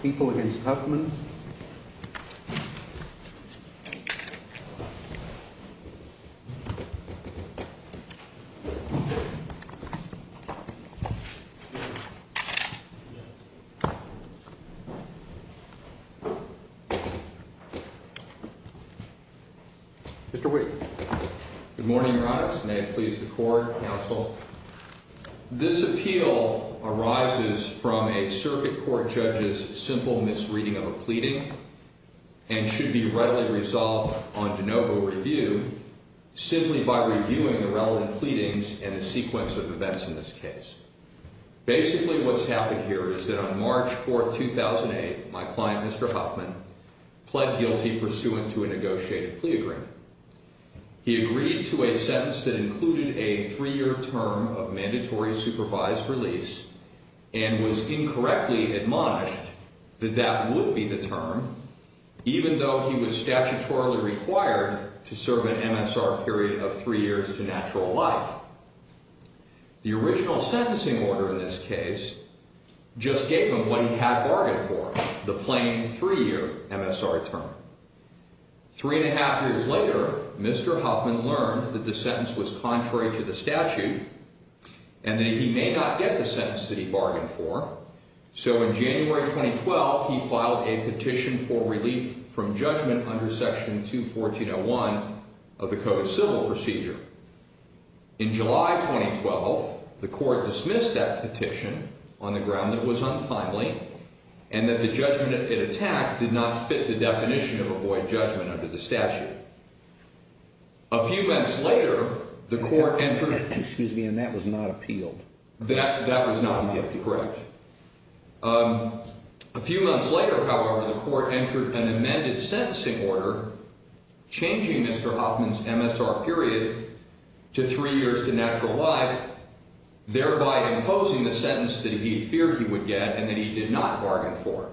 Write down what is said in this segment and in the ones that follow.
People v. Huffman Good morning, Your Honors. May it please the Court, Counsel. This appeal arises from a circuit court judge's simple misreading of a pleading and should be readily resolved on de novo review simply by reviewing the relevant pleadings and the sequence of events in this case. Basically, what's happened here is that on March 4, 2008, my client, Mr. Huffman, pled guilty pursuant to a negotiated plea agreement. He agreed to a sentence that included a three-year term of mandatory supervised release and was incorrectly admonished that that would be the term, even though he was statutorily required to serve an MSR period of three years to natural life. The original sentencing order in this case just gave him what he had bargained for, the plain three-year MSR term. Three and a half years later, Mr. Huffman learned that the sentence was contrary to the statute and that he may not get the sentence that he bargained for. So in January 2012, he filed a petition for relief from judgment under Section 214.01 of the Code of Civil Procedure. In July 2012, the Court dismissed that petition on the ground that it was untimely and that the judgment it attacked did not fit the definition of a void judgment under the statute. A few months later, the Court entered... Excuse me, and that was not appealed? That was not appealed, correct. A few months later, however, the Court entered an amended sentencing order changing Mr. Huffman's MSR period to three years to natural life, thereby imposing the sentence that he feared he would get and that he did not bargain for.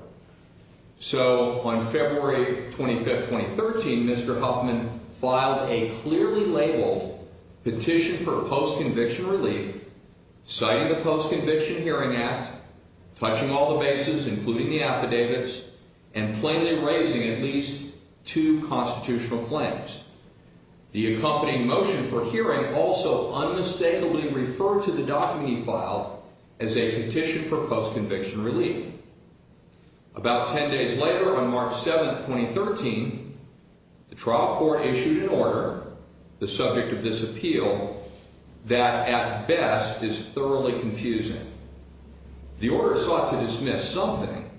So on February 25, 2013, Mr. Huffman filed a clearly labeled petition for post-conviction relief, citing the Post-Conviction Hearing Act, touching all the bases, including the affidavits, and plainly raising at least two constitutional claims. The accompanying motion for hearing also unmistakably referred to the document he filed as a petition for post-conviction relief. About ten days later, on March 7, 2013, the trial court issued an order, the subject of this appeal, that at best is thoroughly confusing. The order sought to dismiss something,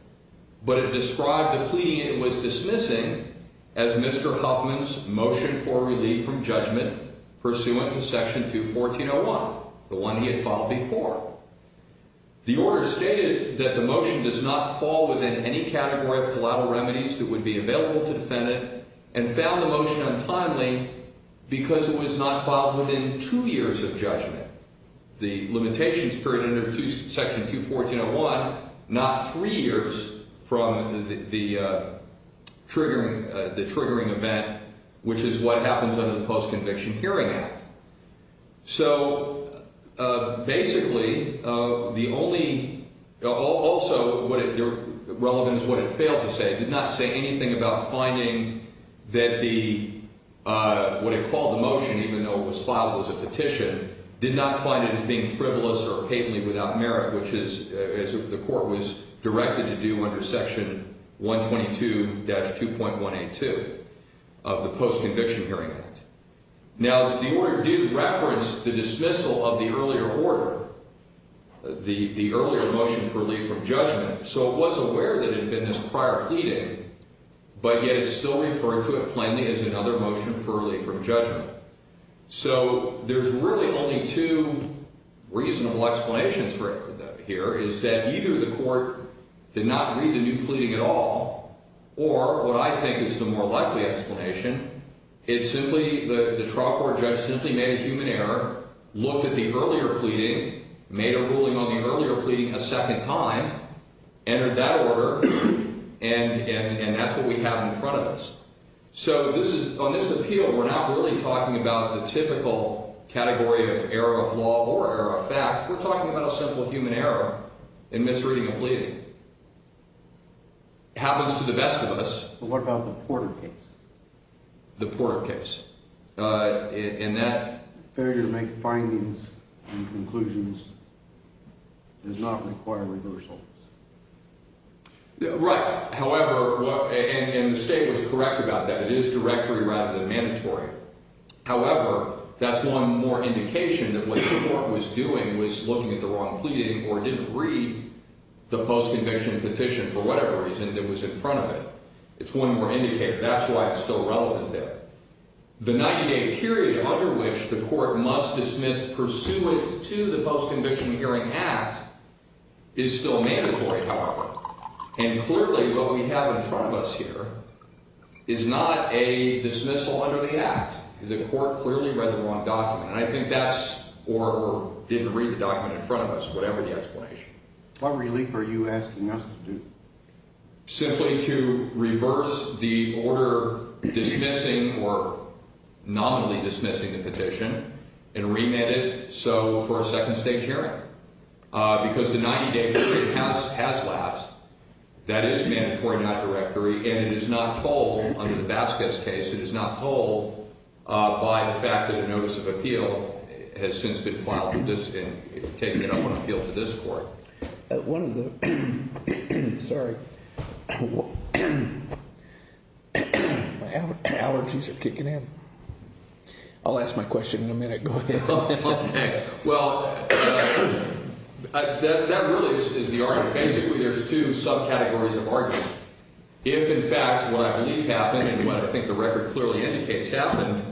but it described the plea it was dismissing as Mr. Huffman's motion for relief from judgment pursuant to Section 214.01, the one he had filed before. The order stated that the motion does not fall within any category of collateral remedies that would be available to defend it, and found the motion untimely because it was not filed within two years of judgment, the limitations period under Section 214.01, not three years from the triggering event, which is what happens under the Post-Conviction Hearing Act. So, basically, the only, also relevant is what it failed to say. It did not say anything about finding that the, what it called the motion, even though it was filed as a petition, did not find it as being frivolous or patently without merit, which is, as the court was directed to do under Section 122-2.182 of the Post-Conviction Hearing Act. Now, the order did reference the dismissal of the earlier order, the earlier motion for relief from judgment, so it was aware that it had been this prior pleading, but yet it's still referring to it plainly as another motion for relief from judgment. So, there's really only two reasonable explanations for that here, is that either the court did not read the new pleading at all, or what I think is the more likely explanation, it simply, the trial court judge simply made a human error, looked at the earlier pleading, made a ruling on the earlier pleading a second time, entered that order, and that's what we have in front of us. So, on this appeal, we're not really talking about the typical category of error of law or error of fact, we're talking about a simple human error in misreading a pleading. Happens to the best of us. But what about the Porter case? The Porter case. In that... Right. However, and the state was correct about that, it is directory rather than mandatory. However, that's one more indication that what the court was doing was looking at the wrong pleading or didn't read the post-conviction petition for whatever reason that was in front of it. It's one more indicator. That's why it's still relevant there. The 90-day period under which the court must dismiss pursuant to the Post-Conviction Hearing Act is still mandatory, however. And clearly, what we have in front of us here is not a dismissal under the Act. The court clearly read the wrong document. And I think that's, or didn't read the document in front of us, whatever the explanation. What relief are you asking us to do? Simply to reverse the order dismissing or nominally dismissing the petition and remand it so for a second-stage hearing? Because the 90-day period has lapsed. That is mandatory, not directory. And it is not told under the Baskett's case. It is not told by the fact that a notice of appeal has since been filed and taken up on appeal to this court. One of the, sorry, my allergies are kicking in. I'll ask my question in a minute. Go ahead. Okay. Well, that really is the argument. Basically, there's two subcategories of argument. If, in fact, what I believe happened and what I think the record clearly indicates happened,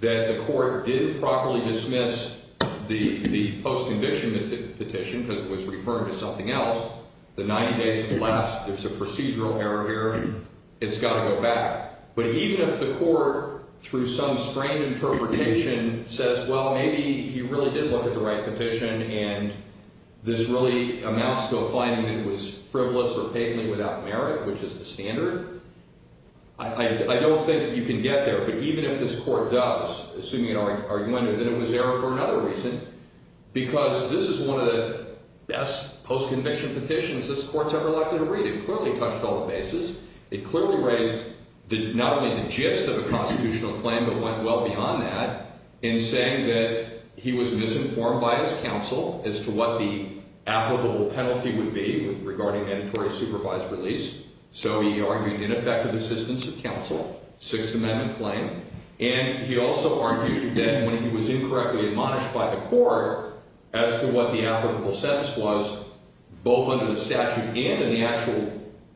that the court didn't properly dismiss the post-conviction petition because it was referring to something else, the 90 days have lapsed. It's a procedural error here. It's got to go back. But even if the court, through some sprained interpretation, says, well, maybe he really did look at the right petition and this really amounts to a finding that it was frivolous or patently without merit, which is the standard, I don't think you can get there. But even if this court does, assuming an argument, then it was error for another reason because this is one of the best post-conviction petitions this court's ever likely to read. It clearly touched all the bases. It clearly raised not only the gist of a constitutional claim but went well beyond that in saying that he was misinformed by his counsel as to what the applicable penalty would be regarding mandatory supervised release. So he argued ineffective assistance of counsel, Sixth Amendment claim, and he also argued that when he was incorrectly admonished by the court as to what the applicable sentence was, both under the statute and in the actual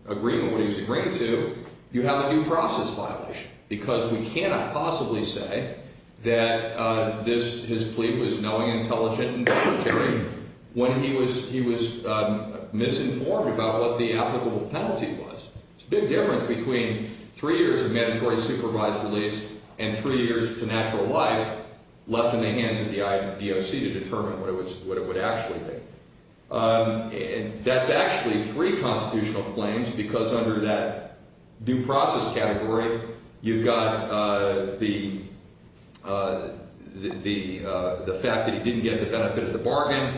agreement, what he was agreeing to, you have a due process violation because we cannot possibly say that his plea was knowing, intelligent, and puritary when he was misinformed about what the applicable penalty was. It's a big difference between three years of mandatory supervised release and three years to natural life left in the hands of the IBOC to determine what it would actually be. That's actually three constitutional claims because under that due process category, you've got the fact that he didn't get the benefit of the bargain,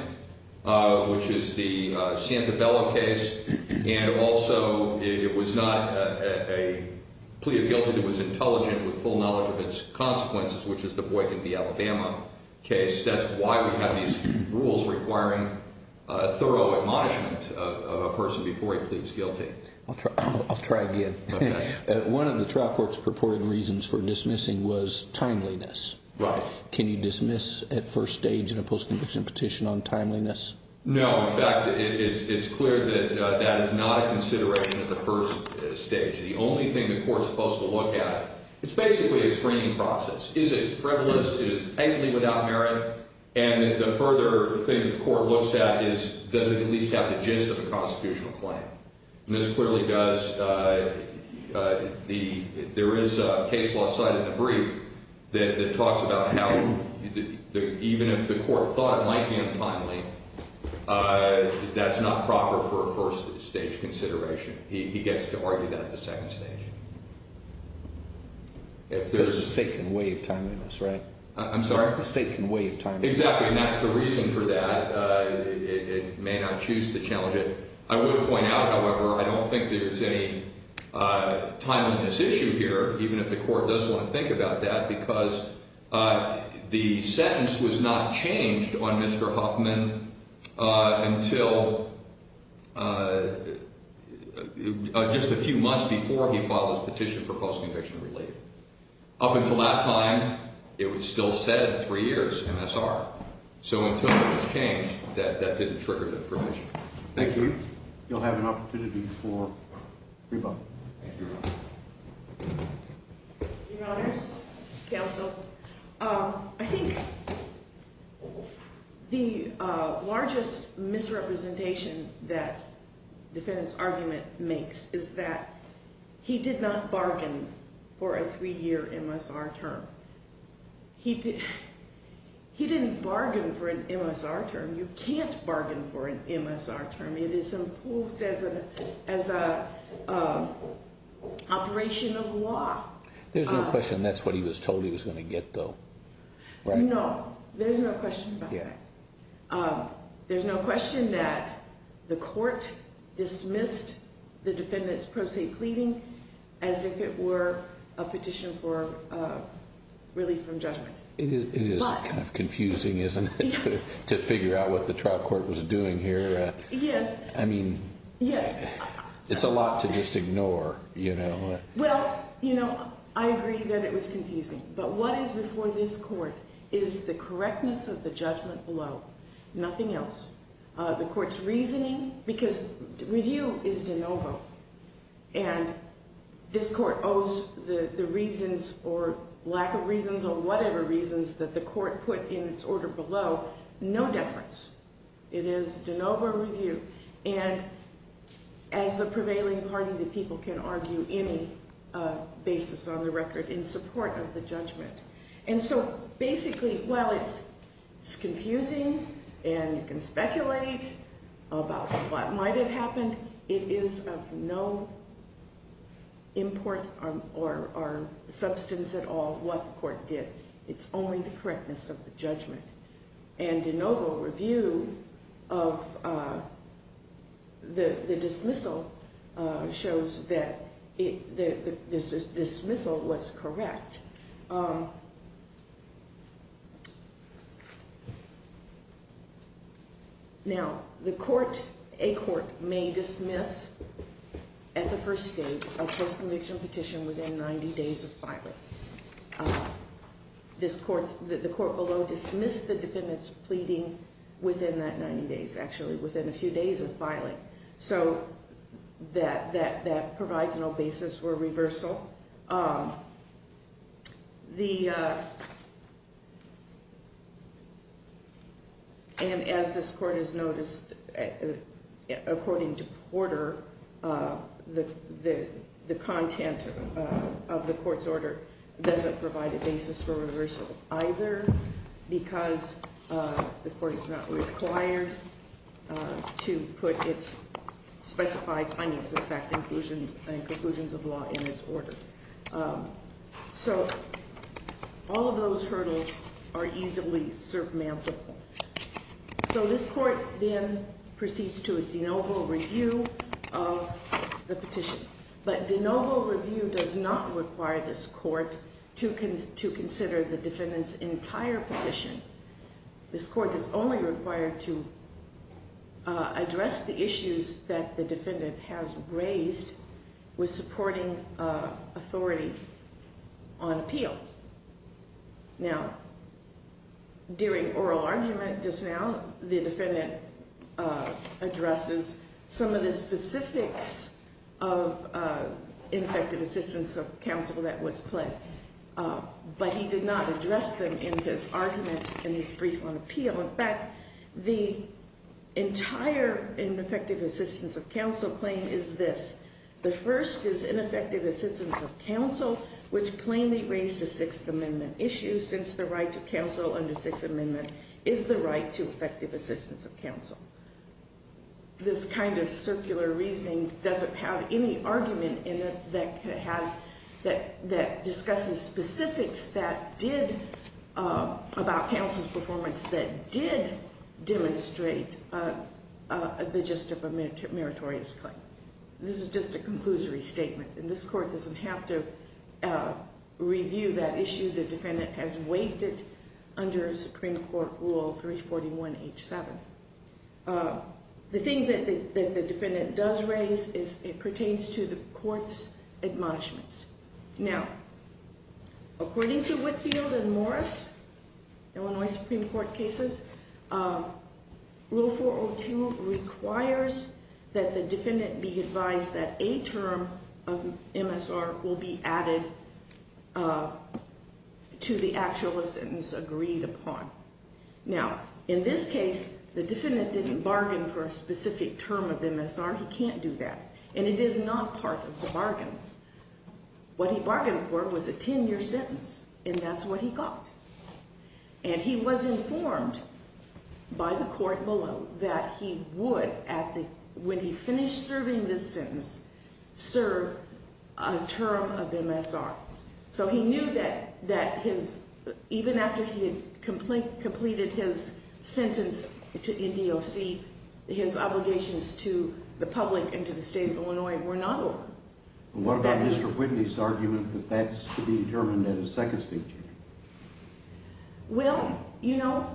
which is the Santabella case, and also it was not a plea of guilt. It was intelligent with full knowledge of its consequences, which is the Boykin v. Alabama case. That's why we have these rules requiring thorough admonishment of a person before he pleads guilty. I'll try again. Okay. One of the trial court's purported reasons for dismissing was timeliness. Right. Can you dismiss at first stage in a post-conviction petition on timeliness? No. In fact, it's clear that that is not a consideration at the first stage. The only thing the court's supposed to look at, it's basically a screening process. Is it frivolous? Is it tightly without merit? And the further thing the court looks at is does it at least have the gist of a constitutional claim? This clearly does. There is a case law cited in the brief that talks about how even if the court thought it might be untimely, that's not proper for a first stage consideration. He gets to argue that at the second stage. Because the state can waive timeliness, right? I'm sorry? The state can waive timeliness. Exactly, and that's the reason for that. It may not choose to challenge it. I would point out, however, I don't think there's any timeliness issue here, even if the court does want to think about that, because the sentence was not changed on Mr. Huffman until just a few months before he filed his petition for post-conviction relief. Up until that time, it was still set at three years MSR. So until it was changed, that didn't trigger the provision. Thank you. You'll have an opportunity for rebuttal. Thank you, Your Honor. Your Honors, Counsel, I think the largest misrepresentation that defendant's argument makes is that he did not bargain for a three-year MSR term. He didn't bargain for an MSR term. You can't bargain for an MSR term. It is imposed as an operation of law. There's no question that's what he was told he was going to get, though. No, there's no question about that. There's no question that the court dismissed the defendant's pro se pleading as if it were a petition for relief from judgment. It is kind of confusing, isn't it, to figure out what the trial court was doing here? Yes. I mean, it's a lot to just ignore, you know. Well, you know, I agree that it was confusing. But what is before this court is the correctness of the judgment below, nothing else. The court's reasoning, because review is de novo, and this court owes the reasons or lack of reasons or whatever reasons that the court put in its order below no deference. It is de novo review. And as the prevailing party, the people can argue any basis on the record in support of the judgment. And so basically, while it's confusing and you can speculate about what might have happened, it is of no import or substance at all what the court did. It's only the correctness of the judgment. And de novo review of the dismissal shows that this dismissal was correct. Now, the court, a court, may dismiss at the first stage a post-conviction petition within 90 days of filing. The court below dismissed the defendant's pleading within that 90 days, actually, within a few days of filing. So that provides no basis for reversal. And as this court has noticed, according to Porter, the content of the court's order doesn't provide a basis for reversal either, because the court is not required to put its specified findings, in fact, conclusions of law in its order. So all of those hurdles are easily surmountable. So this court then proceeds to a de novo review of the petition. But de novo review does not require this court to consider the defendant's entire petition. This court is only required to address the issues that the defendant has raised with supporting authority on appeal. Now, during oral argument just now, the defendant addresses some of the specifics of ineffective assistance of counsel that was pledged. But he did not address them in his argument in his brief on appeal. In fact, the entire ineffective assistance of counsel claim is this. The first is ineffective assistance of counsel, which plainly raised a Sixth Amendment issue, since the right to counsel under Sixth Amendment is the right to effective assistance of counsel. This kind of circular reasoning doesn't have any argument in it that discusses specifics about counsel's performance that did demonstrate the gist of a meritorious claim. This is just a conclusory statement, and this court doesn't have to review that issue. The defendant has waived it under Supreme Court Rule 341H7. The thing that the defendant does raise is it pertains to the court's admonishments. Now, according to Whitfield and Morris, Illinois Supreme Court cases, Rule 402 requires that the defendant be advised that a term of MSR will be added to the actual sentence agreed upon. Now, in this case, the defendant didn't bargain for a specific term of MSR. He can't do that, and it is not part of the bargain. What he bargained for was a 10-year sentence, and that's what he got. And he was informed by the court below that he would, when he finished serving this sentence, serve a term of MSR. So he knew that even after he had completed his sentence in DOC, his obligations to the public and to the state of Illinois were not over. What about Mr. Whitney's argument that that's to be determined at his second speaking? Well, you know,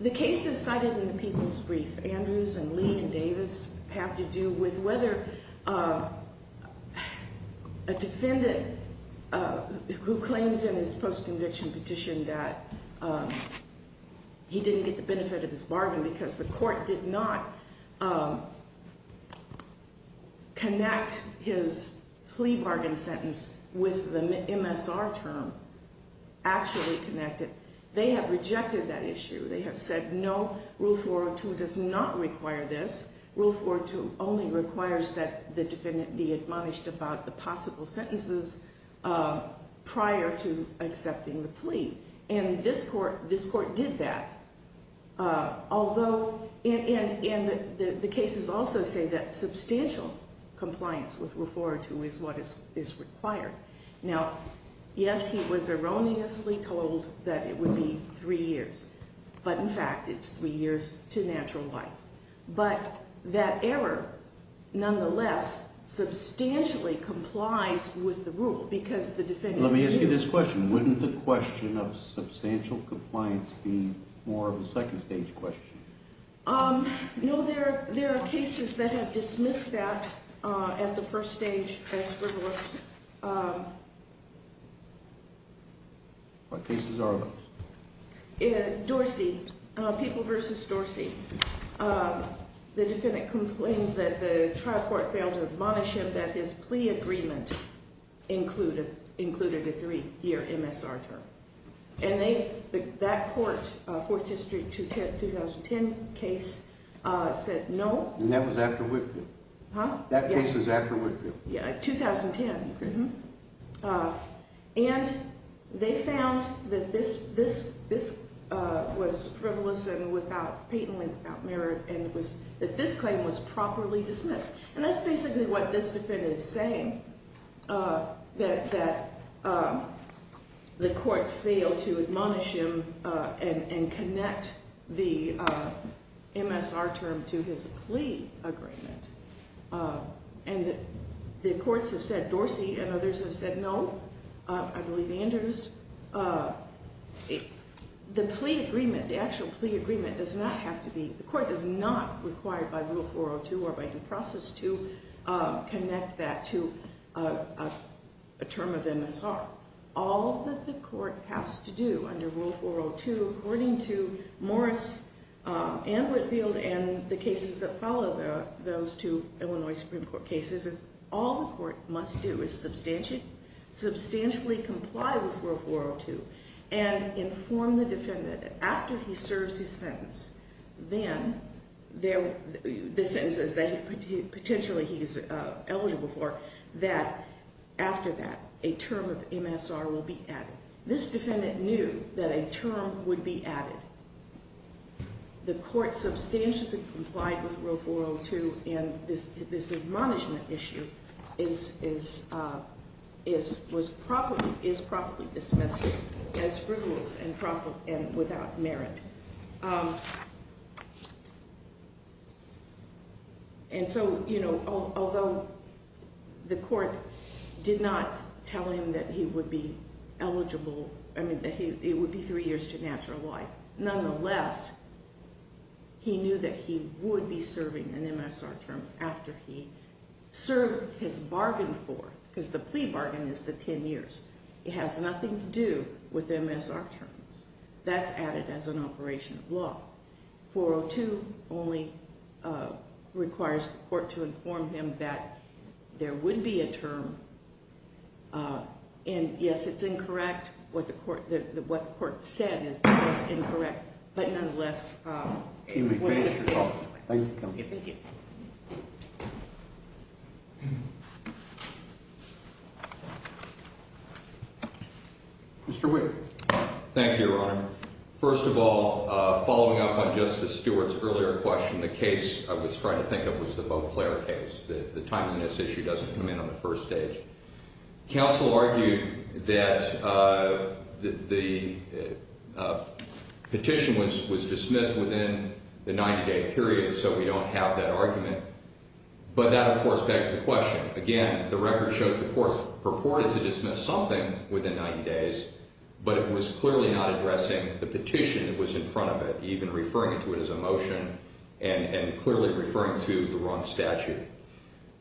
the cases cited in the People's Brief, Andrews and Lee and Davis, have to do with whether a defendant who claims in his post-conviction petition that he didn't get the benefit of his bargain because the court did not connect his plea bargain sentence with the MSR term actually connected. They have rejected that issue. They have said, no, Rule 402 does not require this. Rule 402 only requires that the defendant be admonished about the possible sentences prior to accepting the plea. And this court did that, although the cases also say that substantial compliance with Rule 402 is what is required. Now, yes, he was erroneously told that it would be three years. But, in fact, it's three years to natural life. But that error, nonetheless, substantially complies with the rule because the defendant- Let me ask you this question. Wouldn't the question of substantial compliance be more of a second stage question? No, there are cases that have dismissed that at the first stage as frivolous. What cases are those? Dorsey, People v. Dorsey. The defendant complained that the trial court failed to admonish him that his plea agreement included a three-year MSR term. And that court, Fourth District 2010 case, said no. And that was after Whitfield? Huh? That case was after Whitfield? Yeah, 2010. And they found that this was frivolous and patently without merit and that this claim was properly dismissed. And that's basically what this defendant is saying, that the court failed to admonish him and connect the MSR term to his plea agreement. And the courts have said, Dorsey and others have said no. I believe Anders. The plea agreement, the actual plea agreement, does not have to be- The court is not required by Rule 402 or by due process to connect that to a term of MSR. All that the court has to do under Rule 402, according to Morris and Whitfield and the cases that follow those two Illinois Supreme Court cases, is all the court must do is substantially comply with Rule 402 and inform the defendant that after he serves his sentence, the sentences that potentially he is eligible for, that after that a term of MSR will be added. This defendant knew that a term would be added. The court substantially complied with Rule 402 and this admonishment issue is properly dismissed as frivolous and without merit. And so, you know, although the court did not tell him that he would be eligible, I mean, that it would be three years to natural life, nonetheless, he knew that he would be serving an MSR term after he served his bargain for, because the plea bargain is the ten years. It has nothing to do with MSR terms. That's added as an operation of law. 402 only requires the court to inform him that there would be a term, and yes, it's incorrect. What the court said is incorrect, but nonetheless, it was substantial. Thank you. Thank you. Mr. Whitt. Thank you, Your Honor. First of all, following up on Justice Stewart's earlier question, the case I was trying to think of was the Beauclair case. The time on this issue doesn't come in on the first stage. Counsel argued that the petition was dismissed within the 90-day period, so we don't have that argument. But that, of course, begs the question. Again, the record shows the court purported to dismiss something within 90 days, but it was clearly not addressing the petition that was in front of it, even referring to it as a motion and clearly referring to the wrong statute.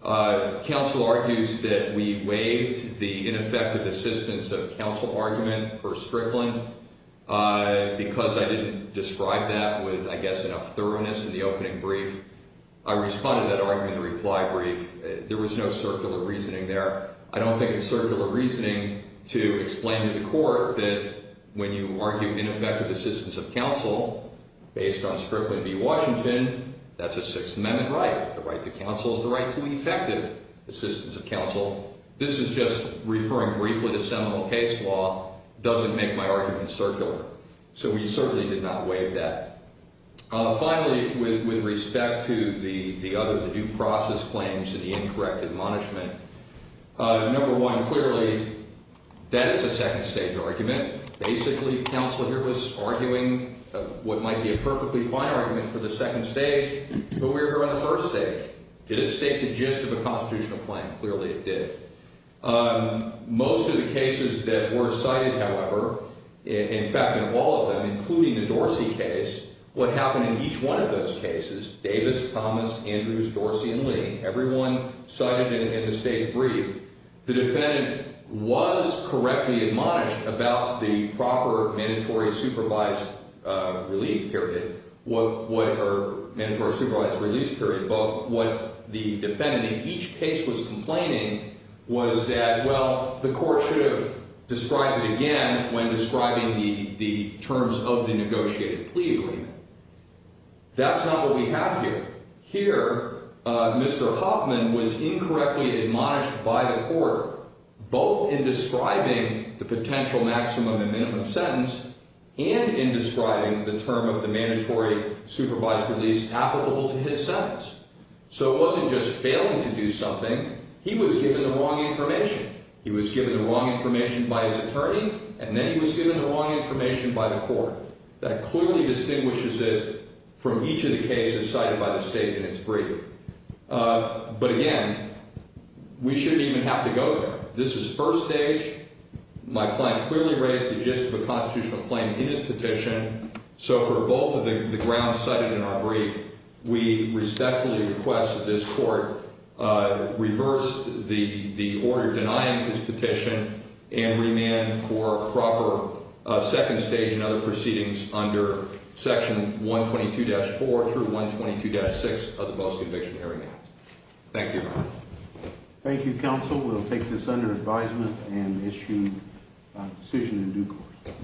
Counsel argues that we waived the ineffective assistance of counsel argument per Strickland. Because I didn't describe that with, I guess, enough thoroughness in the opening brief, I responded to that argument in a reply brief. There was no circular reasoning there. I don't think it's circular reasoning to explain to the court that when you argue ineffective assistance of counsel, based on Strickland v. Washington, that's a Sixth Amendment right. The right to counsel is the right to effective assistance of counsel. This is just referring briefly to seminal case law. It doesn't make my argument circular. So we certainly did not waive that. Finally, with respect to the other, the due process claims and the incorrect admonishment, number one, clearly, that is a second-stage argument. Basically, counsel here was arguing what might be a perfectly fine argument for the second stage, but we were here on the first stage. Did it state the gist of a constitutional claim? Clearly, it did. Most of the cases that were cited, however, in fact, in all of them, including the Dorsey case, what happened in each one of those cases, Davis, Thomas, Andrews, Dorsey, and Lee, everyone cited in the state's brief, the defendant was correctly admonished about the proper mandatory supervised release period, or mandatory supervised release period. But what the defendant in each case was complaining was that, well, the court should have described it again when describing the terms of the negotiated plea agreement. That's not what we have here. Here, Mr. Hoffman was incorrectly admonished by the court, both in describing the potential maximum and minimum sentence and in describing the term of the mandatory supervised release applicable to his sentence. So it wasn't just failing to do something. He was given the wrong information. He was given the wrong information by his attorney, and then he was given the wrong information by the court. That clearly distinguishes it from each of the cases cited by the state in its brief. But again, we shouldn't even have to go there. This is first stage. My client clearly raised the gist of a constitutional claim in his petition. So for both of the grounds cited in our brief, we respectfully request that this court reverse the order denying his petition and remand for proper second stage and other proceedings under Section 122-4 through 122-6 of the Post-Conviction Area Act. Thank you. Thank you, counsel. We'll take this under advisement and issue a decision in due course.